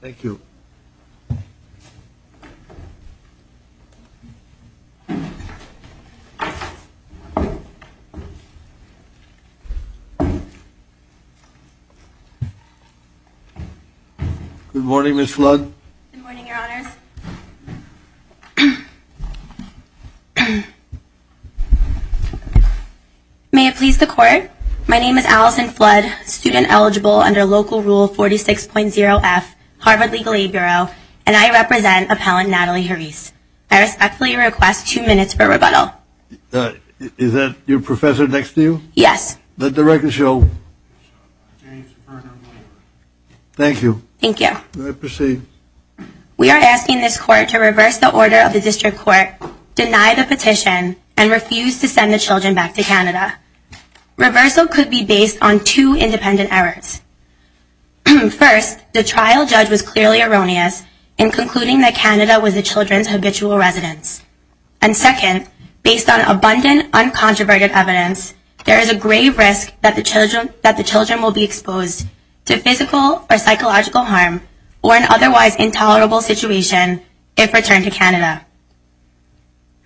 Thank you. Good morning, Ms. Flood. May it please the court, my name is Allison Flood, student eligible under Local Rule 46.0F, Harvard Legal Aid Bureau, and I represent appellant Natalie Herisse. I respectfully request two minutes for rebuttal. Is that your professor next to you? Yes. Let the record show. James Berger, lawyer. Thank you. Thank you. You may proceed. We are asking this court to reverse the order of the district court, deny the petition, and refuse to send the children back to Canada. Reversal could be based on two independent errors. First, the trial judge was clearly erroneous in concluding that Canada was the children's habitual residence. And second, based on abundant, uncontroverted evidence, there is a grave risk that the children will be exposed to physical or psychological harm or an otherwise intolerable situation if returned to Canada.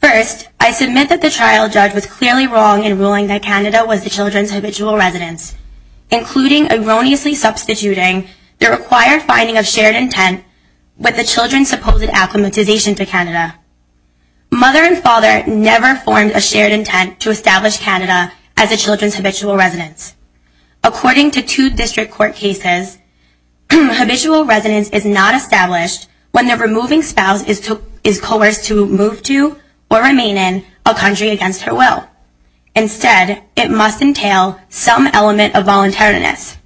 First, I submit that the trial judge was clearly wrong in ruling that Canada was the children's habitual residence, including erroneously substituting the required finding of shared intent with the children's supposed acclimatization to Canada. Mother and father never formed a shared intent to establish Canada as the children's habitual residence. According to two district court cases, habitual residence is not established when the removing spouse is coerced to move to or remain in a country against her will. Instead, it must entail some element of voluntariness.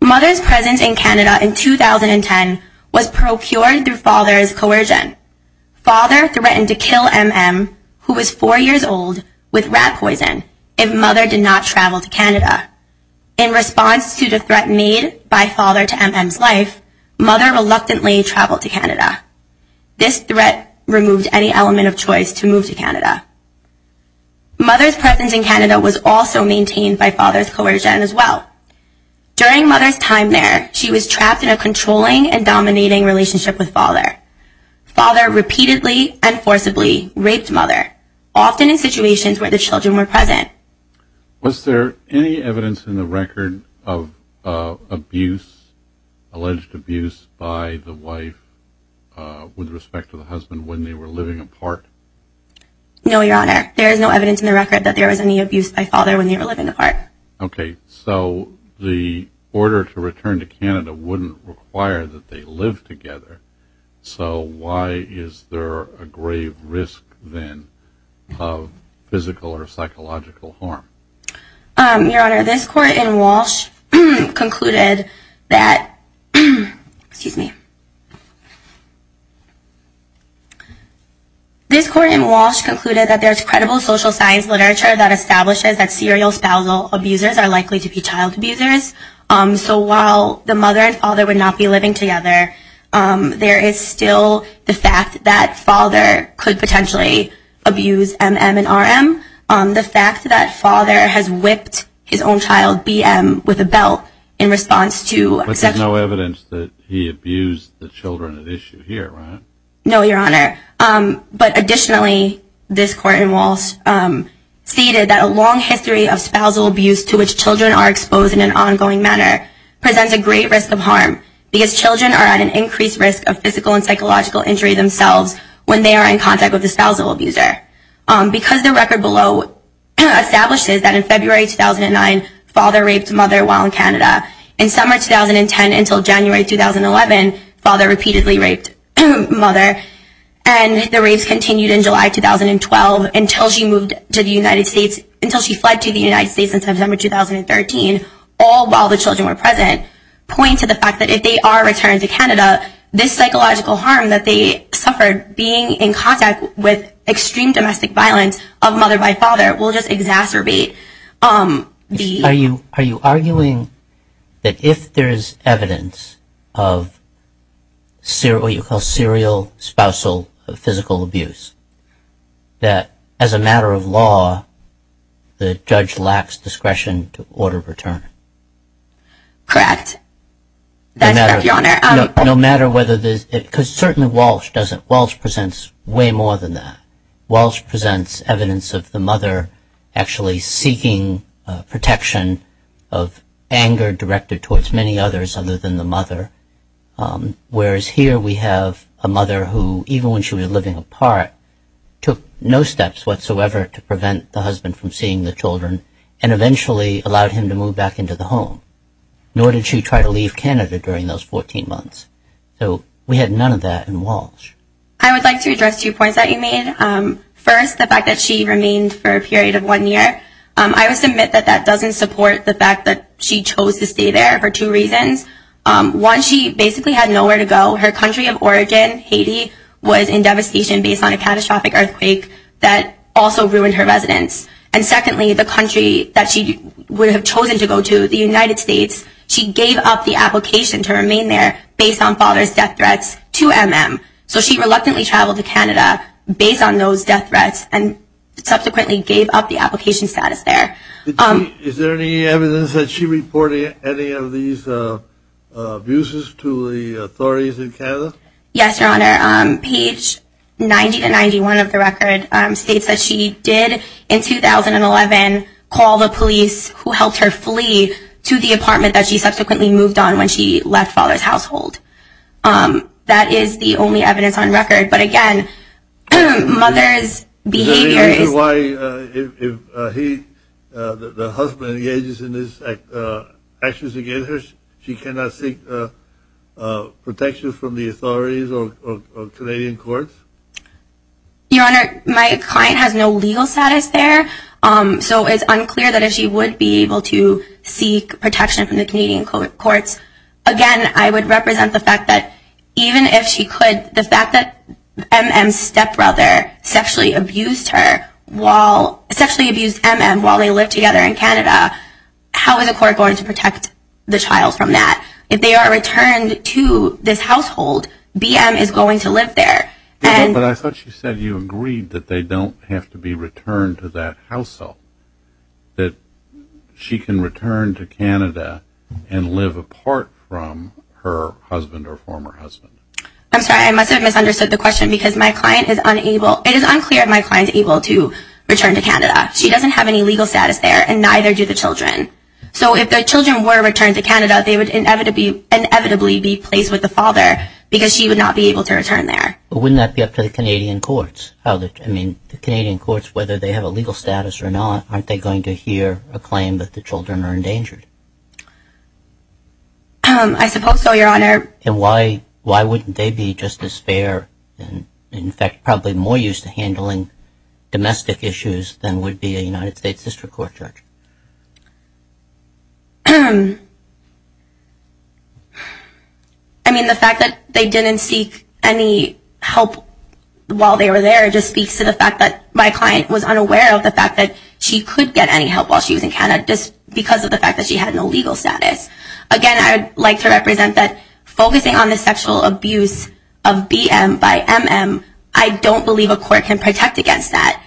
Mother's presence in Canada in 2010 was procured through father's coercion. Father threatened to kill M.M., who was four years old, with rat poison if mother did not travel to Canada. In response to the threat made by father to M.M.'s life, mother reluctantly traveled to Canada. This threat removed any element of choice to move to Canada. Mother's presence in Canada was also maintained by father's coercion as well. During mother's time there, she was trapped in a controlling and dominating relationship with father. Father repeatedly and forcibly raped mother, often in situations where the children were present. Was there any evidence in the record of alleged abuse by the wife with respect to the husband when they were living apart? No, your honor. There is no evidence in the record that there was any abuse by father when they were living apart. Okay, so the order to return to Canada wouldn't require that they live together. So why is there a grave risk, then, of physical or psychological harm? Your honor, this court in Walsh concluded that there is credible social science literature that establishes that serial spousal abusers are likely to be child abusers. So while the mother and father would not be living together, there is still the fact that father could potentially abuse M.M. and R.M. The fact that father has whipped his own child, B.M., with a belt in response to sexual abuse. But there's no evidence that he abused the children at issue here, right? No, your honor. But additionally, this court in Walsh stated that a long history of spousal abuse to which children are exposed in an ongoing manner presents a great risk of harm because children are at an increased risk of physical and psychological injury themselves when they are in contact with a spousal abuser. Because the record below establishes that in February 2009, father raped mother while in Canada. In summer 2010 until January 2011, father repeatedly raped mother. And the rapes continued in July 2012 until she moved to the United States, until she fled to the United States in September 2013, all while the children were present, point to the fact that if they are returned to Canada, this psychological harm that they suffered being in contact with extreme domestic violence of mother by father will just exacerbate the... the risk of spousal physical abuse. That as a matter of law, the judge lacks discretion to order return. Correct. No matter whether there's... because certainly Walsh doesn't. Walsh presents way more than that. Walsh presents evidence of the mother actually seeking protection of anger directed towards many others other than the mother. Whereas here we have a mother who, even when she was living apart, took no steps whatsoever to prevent the husband from seeing the children and eventually allowed him to move back into the home. Nor did she try to leave Canada during those 14 months. So we had none of that in Walsh. I would like to address two points that you made. First, the fact that she remained for a period of one year. I must admit that that doesn't support the fact that she chose to stay there for two reasons. One, she basically had nowhere to go. Her country of origin, Haiti, was in devastation based on a catastrophic earthquake that also ruined her residence. And secondly, the country that she would have chosen to go to, the United States, she gave up the application to remain there based on father's death threats to MM. So she reluctantly traveled to Canada based on those death threats and subsequently gave up the application status there. Is there any evidence that she reported any of these abuses to the authorities in Canada? Yes, Your Honor. Page 90 to 91 of the record states that she did in 2011 call the police who helped her flee to the apartment that she subsequently moved on when she left father's household. That is the only evidence on record. But again, mother's behavior is... Is this why the husband engages in these actions against her? She cannot seek protection from the authorities or Canadian courts? Your Honor, my client has no legal status there. So it's unclear that if she would be able to seek protection from the Canadian courts. Again, I would represent the fact that even if she could, the fact that MM's stepbrother sexually abused her while... sexually abused MM while they lived together in Canada, how is a court going to protect the child from that? If they are returned to this household, BM is going to live there. But I thought she said you agreed that they don't have to be returned to that household. That she can return to Canada and live apart from her husband or former husband. I'm sorry, I must have misunderstood the question because my client is unable... It is unclear if my client is able to return to Canada. She doesn't have any legal status there and neither do the children. So if the children were returned to Canada, they would inevitably be placed with the father because she would not be able to return there. But wouldn't that be up to the Canadian courts? I mean, the Canadian courts, whether they have a legal status or not, aren't they going to hear a claim that the children are endangered? I suppose so, Your Honor. And why wouldn't they be just as fair and in fact probably more used to handling domestic issues than would be a United States District Court judge? I mean, the fact that they didn't seek any help while they were there just speaks to the fact that my client was unaware of the fact that she could get any help while she was in Canada just because of the fact that she had no legal status. Again, I would like to represent that focusing on the sexual abuse of BM by MM, I don't believe a court can protect against that.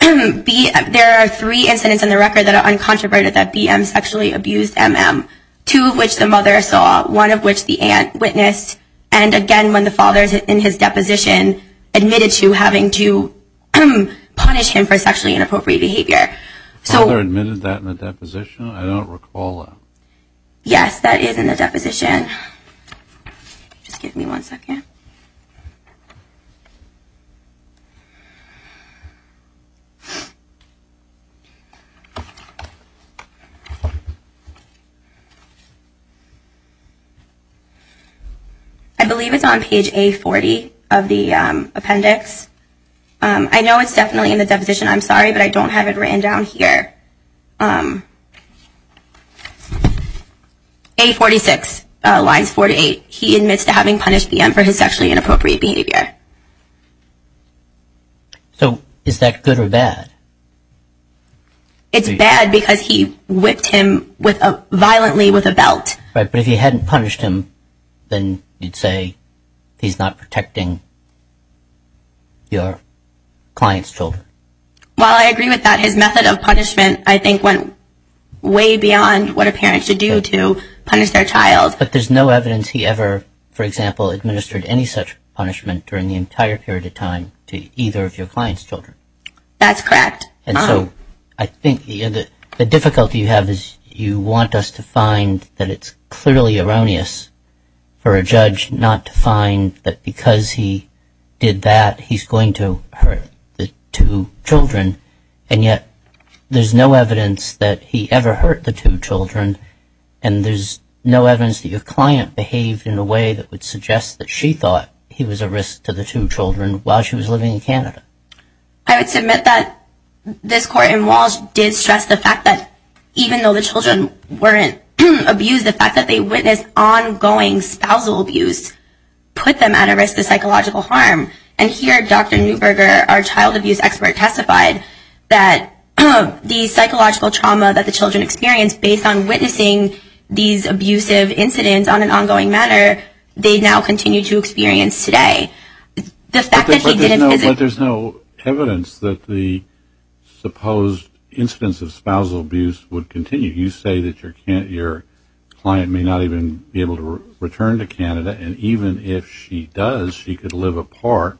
There are three incidents in the record that are uncontroverted that BM sexually abused MM. Two of which the mother saw, one of which the aunt witnessed, and again, when the father is in his deposition, admitted to having to punish him for sexually inappropriate behavior. The father admitted that in the deposition? I don't recall that. Yes, that is in the deposition. Just give me one second. I believe it's on page A40 of the appendix. I know it's definitely in the deposition, I'm sorry, but I don't have it written down here. A46, lines 4 to 8. He admits to having punished BM for his sexually inappropriate behavior. So is that in the deposition? Is that good or bad? It's bad because he whipped him violently with a belt. Right, but if he hadn't punished him, then you'd say he's not protecting your client's children. Well, I agree with that. His method of punishment, I think, went way beyond what a parent should do to punish their child. But there's no evidence he ever, for example, administered any such punishment during the entire period of time to either of your client's children. That's correct. And so I think the difficulty you have is you want us to find that it's clearly erroneous for a judge not to find that because he did that, he's going to hurt the two children, and yet there's no evidence that he ever hurt the two children, and there's no evidence that your client behaved in a way that would suggest that she thought he was a risk to the two children while she was living in Canada. I would submit that this court in Walsh did stress the fact that even though the children weren't abused, the fact that they witnessed ongoing spousal abuse put them at a risk of psychological harm. And here, Dr. Neuberger, our child abuse expert, testified that the psychological trauma that the children experienced based on witnessing these abusive incidents on an ongoing matter, they now continue to experience today. But there's no evidence that the supposed incidents of spousal abuse would continue. You say that your client may not even be able to return to Canada, and even if she does, she could live apart,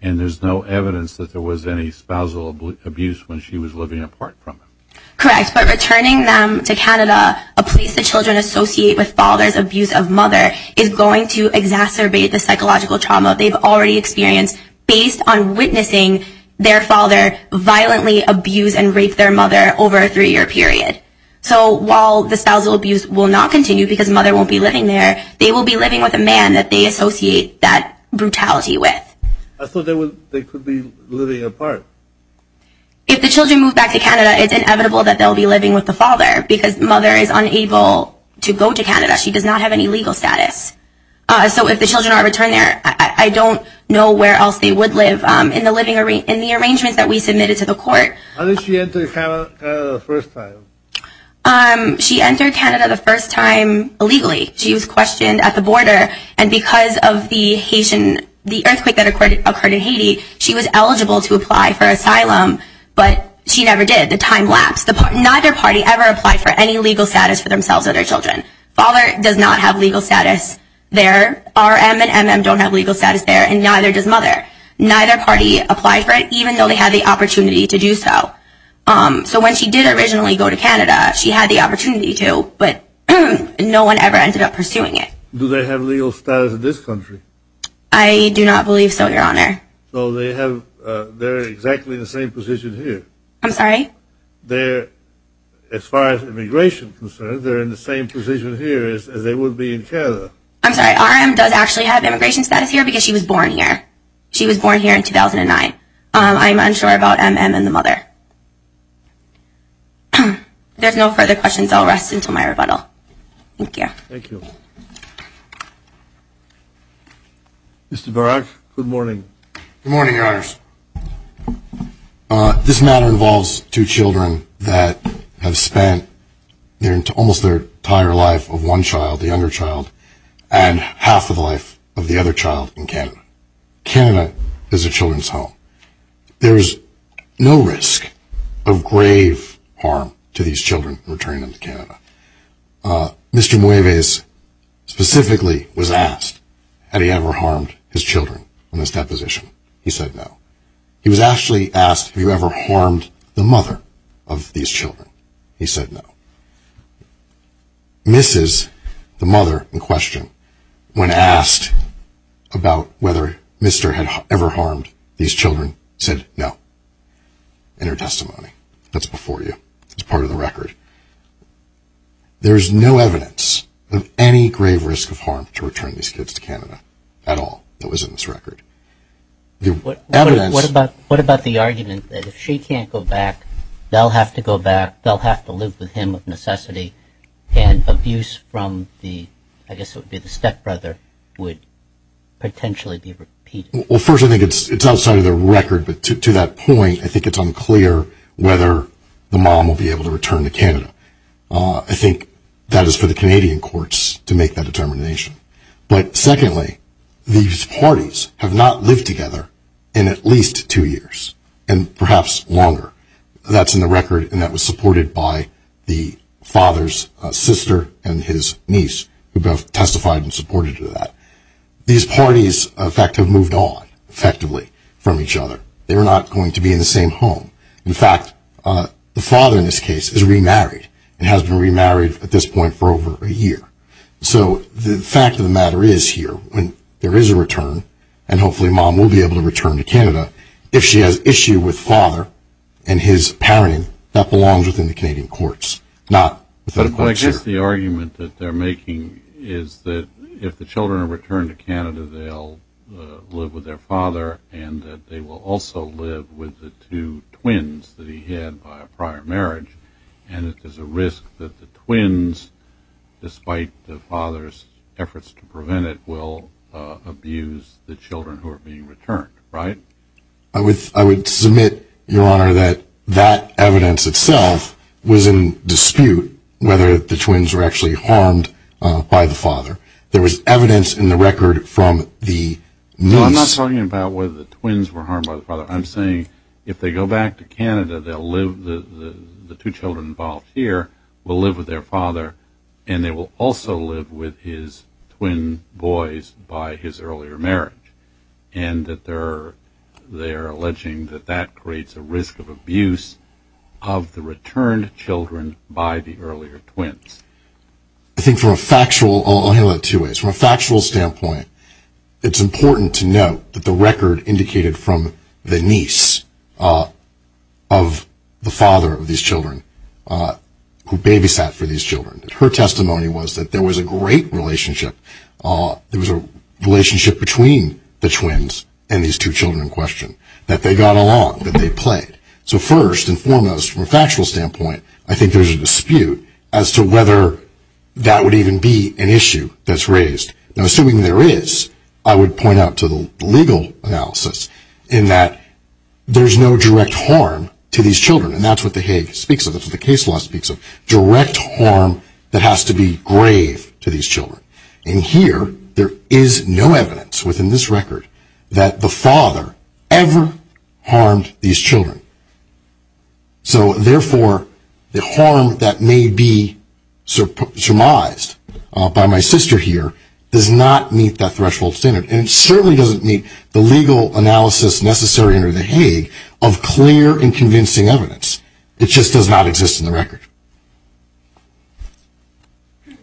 and there's no evidence that there was any spousal abuse when she was living apart from them. Correct. But returning them to Canada, a place the children associate with father's abuse of mother, is going to exacerbate the psychological trauma they've already experienced based on witnessing their father violently abuse and rape their mother over a three-year period. So while the spousal abuse will not continue because mother won't be living there, they will be living with a man that they associate that brutality with. So they could be living apart? If the children move back to Canada, it's inevitable that they'll be living with the father, because mother is unable to go to Canada. She does not have any legal status. So if the children are returned there, I don't know where else they would live. In the arrangements that we submitted to the court... When did she enter Canada the first time? She entered Canada the first time illegally. She was questioned at the border, and because of the earthquake that occurred in Haiti, she was eligible to apply for asylum, but she never did. The time lapsed. Neither party ever applied for any legal status for themselves or their children. Father does not have legal status there. RM and MM don't have legal status there, and neither does mother. Neither party applied for it, even though they had the opportunity to do so. So when she did originally go to Canada, she had the opportunity to, but no one ever ended up pursuing it. Do they have legal status in this country? I do not believe so, Your Honor. So they're in exactly the same position here? I'm sorry? As far as immigration is concerned, they're in the same position here as they would be in Canada. I'm sorry, RM does actually have immigration status here because she was born here. She was born here in 2009. I'm unsure about MM and the mother. If there's no further questions, I'll rest until my rebuttal. Thank you. Thank you. Good morning, Your Honors. This matter involves two children that have spent almost their entire life of one child, the younger child, and half of the life of the other child in Canada. Canada is a children's home. There is no risk of grave harm to these children returning to Canada. Mr. Mueves specifically was asked had he ever harmed his children in this deposition. He said no. He was actually asked have you ever harmed the mother of these children. He said no. Mrs., the mother in question, when asked about whether Mr. had ever harmed these children, said no. In her testimony. That's before you. It's part of the record. There's no evidence of any grave risk of harm to return these kids to Canada at all that was in this record. What about the argument that if she can't go back, they'll have to go back, they'll have to live with him if necessity, and abuse from the, I guess it would be the stepbrother, would potentially be repeated? Well, first, I think it's outside of the record, but to that point, I think it's unclear whether the mom will be able to return to Canada. I think that is for the Canadian courts to make that determination. But secondly, these parties have not lived together in at least two years, and perhaps longer. That's in the record, and that was supported by the father's sister and his niece, who both testified in support of that. These parties, in fact, have moved on, effectively, from each other. They were not going to be in the same home. In fact, the father in this case is remarried and has been remarried at this point for over a year. So the fact of the matter is here, when there is a return, and hopefully mom will be able to return to Canada, if she has issue with father and his parenting, that belongs within the Canadian courts. But I guess the argument that they're making is that if the children are returned to Canada, they'll live with their father and that they will also live with the two twins that he had by a prior marriage, and that there's a risk that the twins, despite the father's efforts to prevent it, will abuse the children who are being returned, right? I would submit, Your Honor, that that evidence itself was in dispute, whether the twins were actually harmed by the father. There was evidence in the record from the months. No, I'm not talking about whether the twins were harmed by the father. I'm saying if they go back to Canada, the two children involved here will live with their father, and they will also live with his twin boys by his earlier marriage, and that they're alleging that that creates a risk of abuse of the returned children by the earlier twins. I think from a factual, I'll handle it two ways. From a factual standpoint, it's important to note that the record indicated from the niece of the father of these children, who babysat for these children, that her testimony was that there was a great relationship, there was a relationship between the twins and these two children in question, that they got along, that they played. So first and foremost, from a factual standpoint, I think there's a dispute as to whether that would even be an issue that's raised. Assuming there is, I would point out to the legal analysis, in that there's no direct harm to these children, and that's what the Hague speaks of, that's what the case law speaks of, direct harm that has to be grave to these children. And here, there is no evidence within this record that the father ever harmed these children. So therefore, the harm that may be surmised by my sister here does not meet that threshold standard, and it certainly doesn't meet the legal analysis necessary under the Hague of clear and convincing evidence. It just does not exist in the record. Do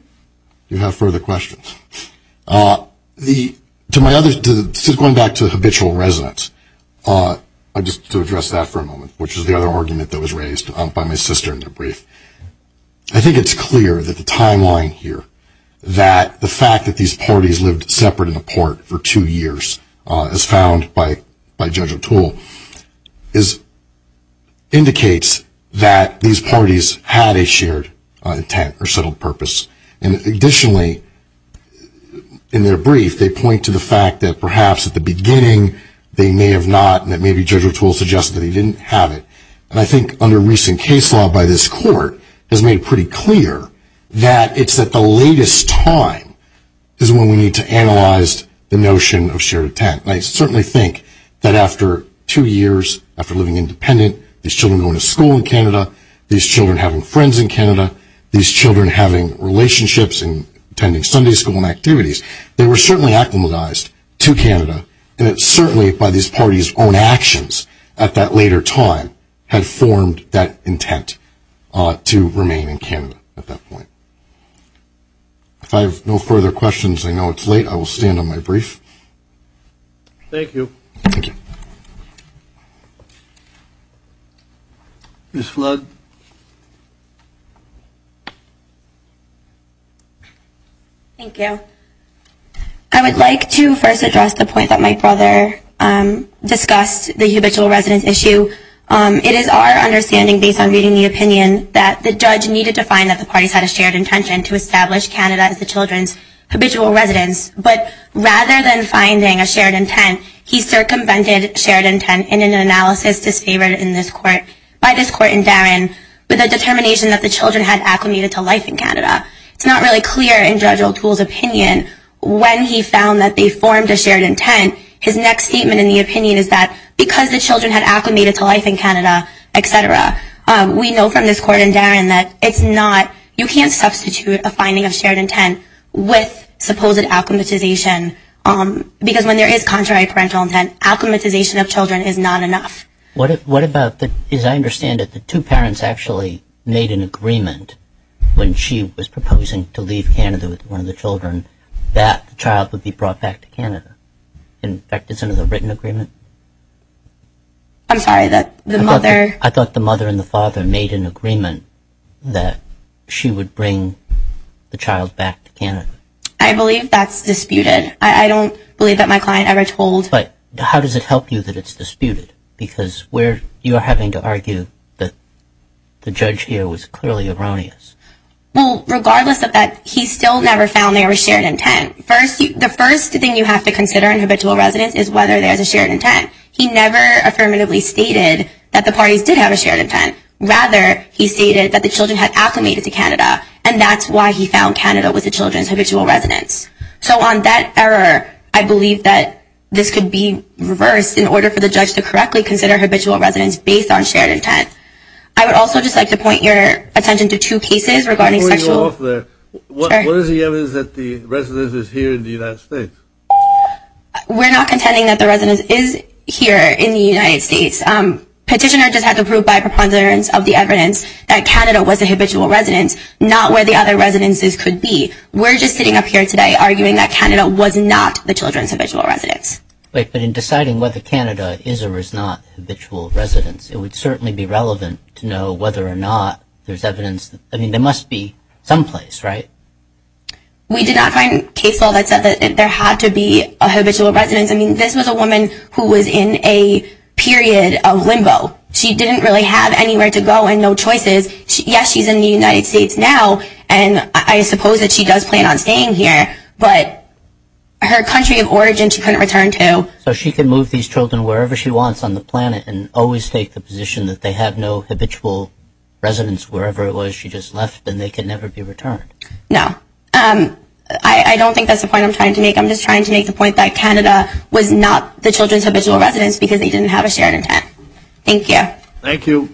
you have further questions? Going back to habitual residence, just to address that for a moment, which is the other argument that was raised by my sister in her brief, I think it's clear that the timeline here, that the fact that these parties lived separate and apart for two years, as found by Judge O'Toole, indicates that these parties had a shared intent or settled purpose. And additionally, in their brief, they point to the fact that perhaps at the beginning they may have not, and that maybe Judge O'Toole suggested that he didn't have it. And I think under recent case law by this Court, it's made pretty clear that it's at the latest time is when we need to analyze the notion of shared intent. And I certainly think that after two years, after living independent, these children going to school in Canada, these children having friends in Canada, these children having relationships and attending Sunday school and activities, they were certainly acclimatized to Canada, and it's certainly by these parties' own actions at that later time had formed that intent to remain in Canada at that point. If I have no further questions, I know it's late, I will stand on my brief. Thank you. Thank you. Ms. Flood. Thank you. I would like to first address the point that my brother discussed, the habitual residence issue. It is our understanding, based on reading the opinion, that the judge needed to find that the parties had a shared intention to establish Canada as the children's habitual residence. But rather than finding a shared intent, he circumvented shared intent in an analysis disfavored by this Court in Darren with a determination that the children had acclimated to life in Canada. It's not really clear in Judge O'Toole's opinion when he found that they formed a shared intent. His next statement in the opinion is that because the children had acclimated to life in Canada, etc., we know from this Court in Darren that it's not, you can't substitute a finding of shared intent with supposed acclimatization because when there is contrary parental intent, acclimatization of children is not enough. What about, as I understand it, the two parents actually made an agreement when she was proposing to leave Canada with one of the children, that the child would be brought back to Canada. In fact, is it a written agreement? I'm sorry, that the mother I thought the mother and the father made an agreement that she would bring the child back to Canada. I believe that's disputed. I don't believe that my client ever told But how does it help you that it's disputed? Because you're having to argue that the judge here was clearly erroneous. Well, regardless of that, he still never found there was shared intent. The first thing you have to consider in habitual residence is whether there's a shared intent. He never affirmatively stated that the parties did have a shared intent. Rather, he stated that the children had acclimated to Canada and that's why he found Canada was the children's habitual residence. So on that error, I believe that this could be reversed in order for the judge to correctly consider habitual residence based on shared intent. I would also just like to point your attention to two cases regarding sexual Before you go off there, what is the evidence that the residence is here in the United States? We're not contending that the residence is here in the United States. Petitioner just had to prove by preponderance of the evidence that Canada was a habitual residence, not where the other residences could be. We're just sitting up here today arguing that Canada was not the children's habitual residence. Wait, but in deciding whether Canada is or is not habitual residence, it would certainly be relevant to know whether or not there's evidence I mean, there must be someplace, right? We did not find case law that said that there had to be a habitual residence. I mean, this was a woman who was in a period of limbo. She didn't really have anywhere to go and no choices. Yes, she's in the United States now, and I suppose that she does plan on staying here, but her country of origin she couldn't return to. So she could move these children wherever she wants on the planet and always take the position that they have no habitual residence wherever it was she just left and they could never be returned. No, I don't think that's the point I'm trying to make. I'm just trying to make the point that Canada was not the children's habitual residence because they didn't have a shared intent. Thank you. Thank you.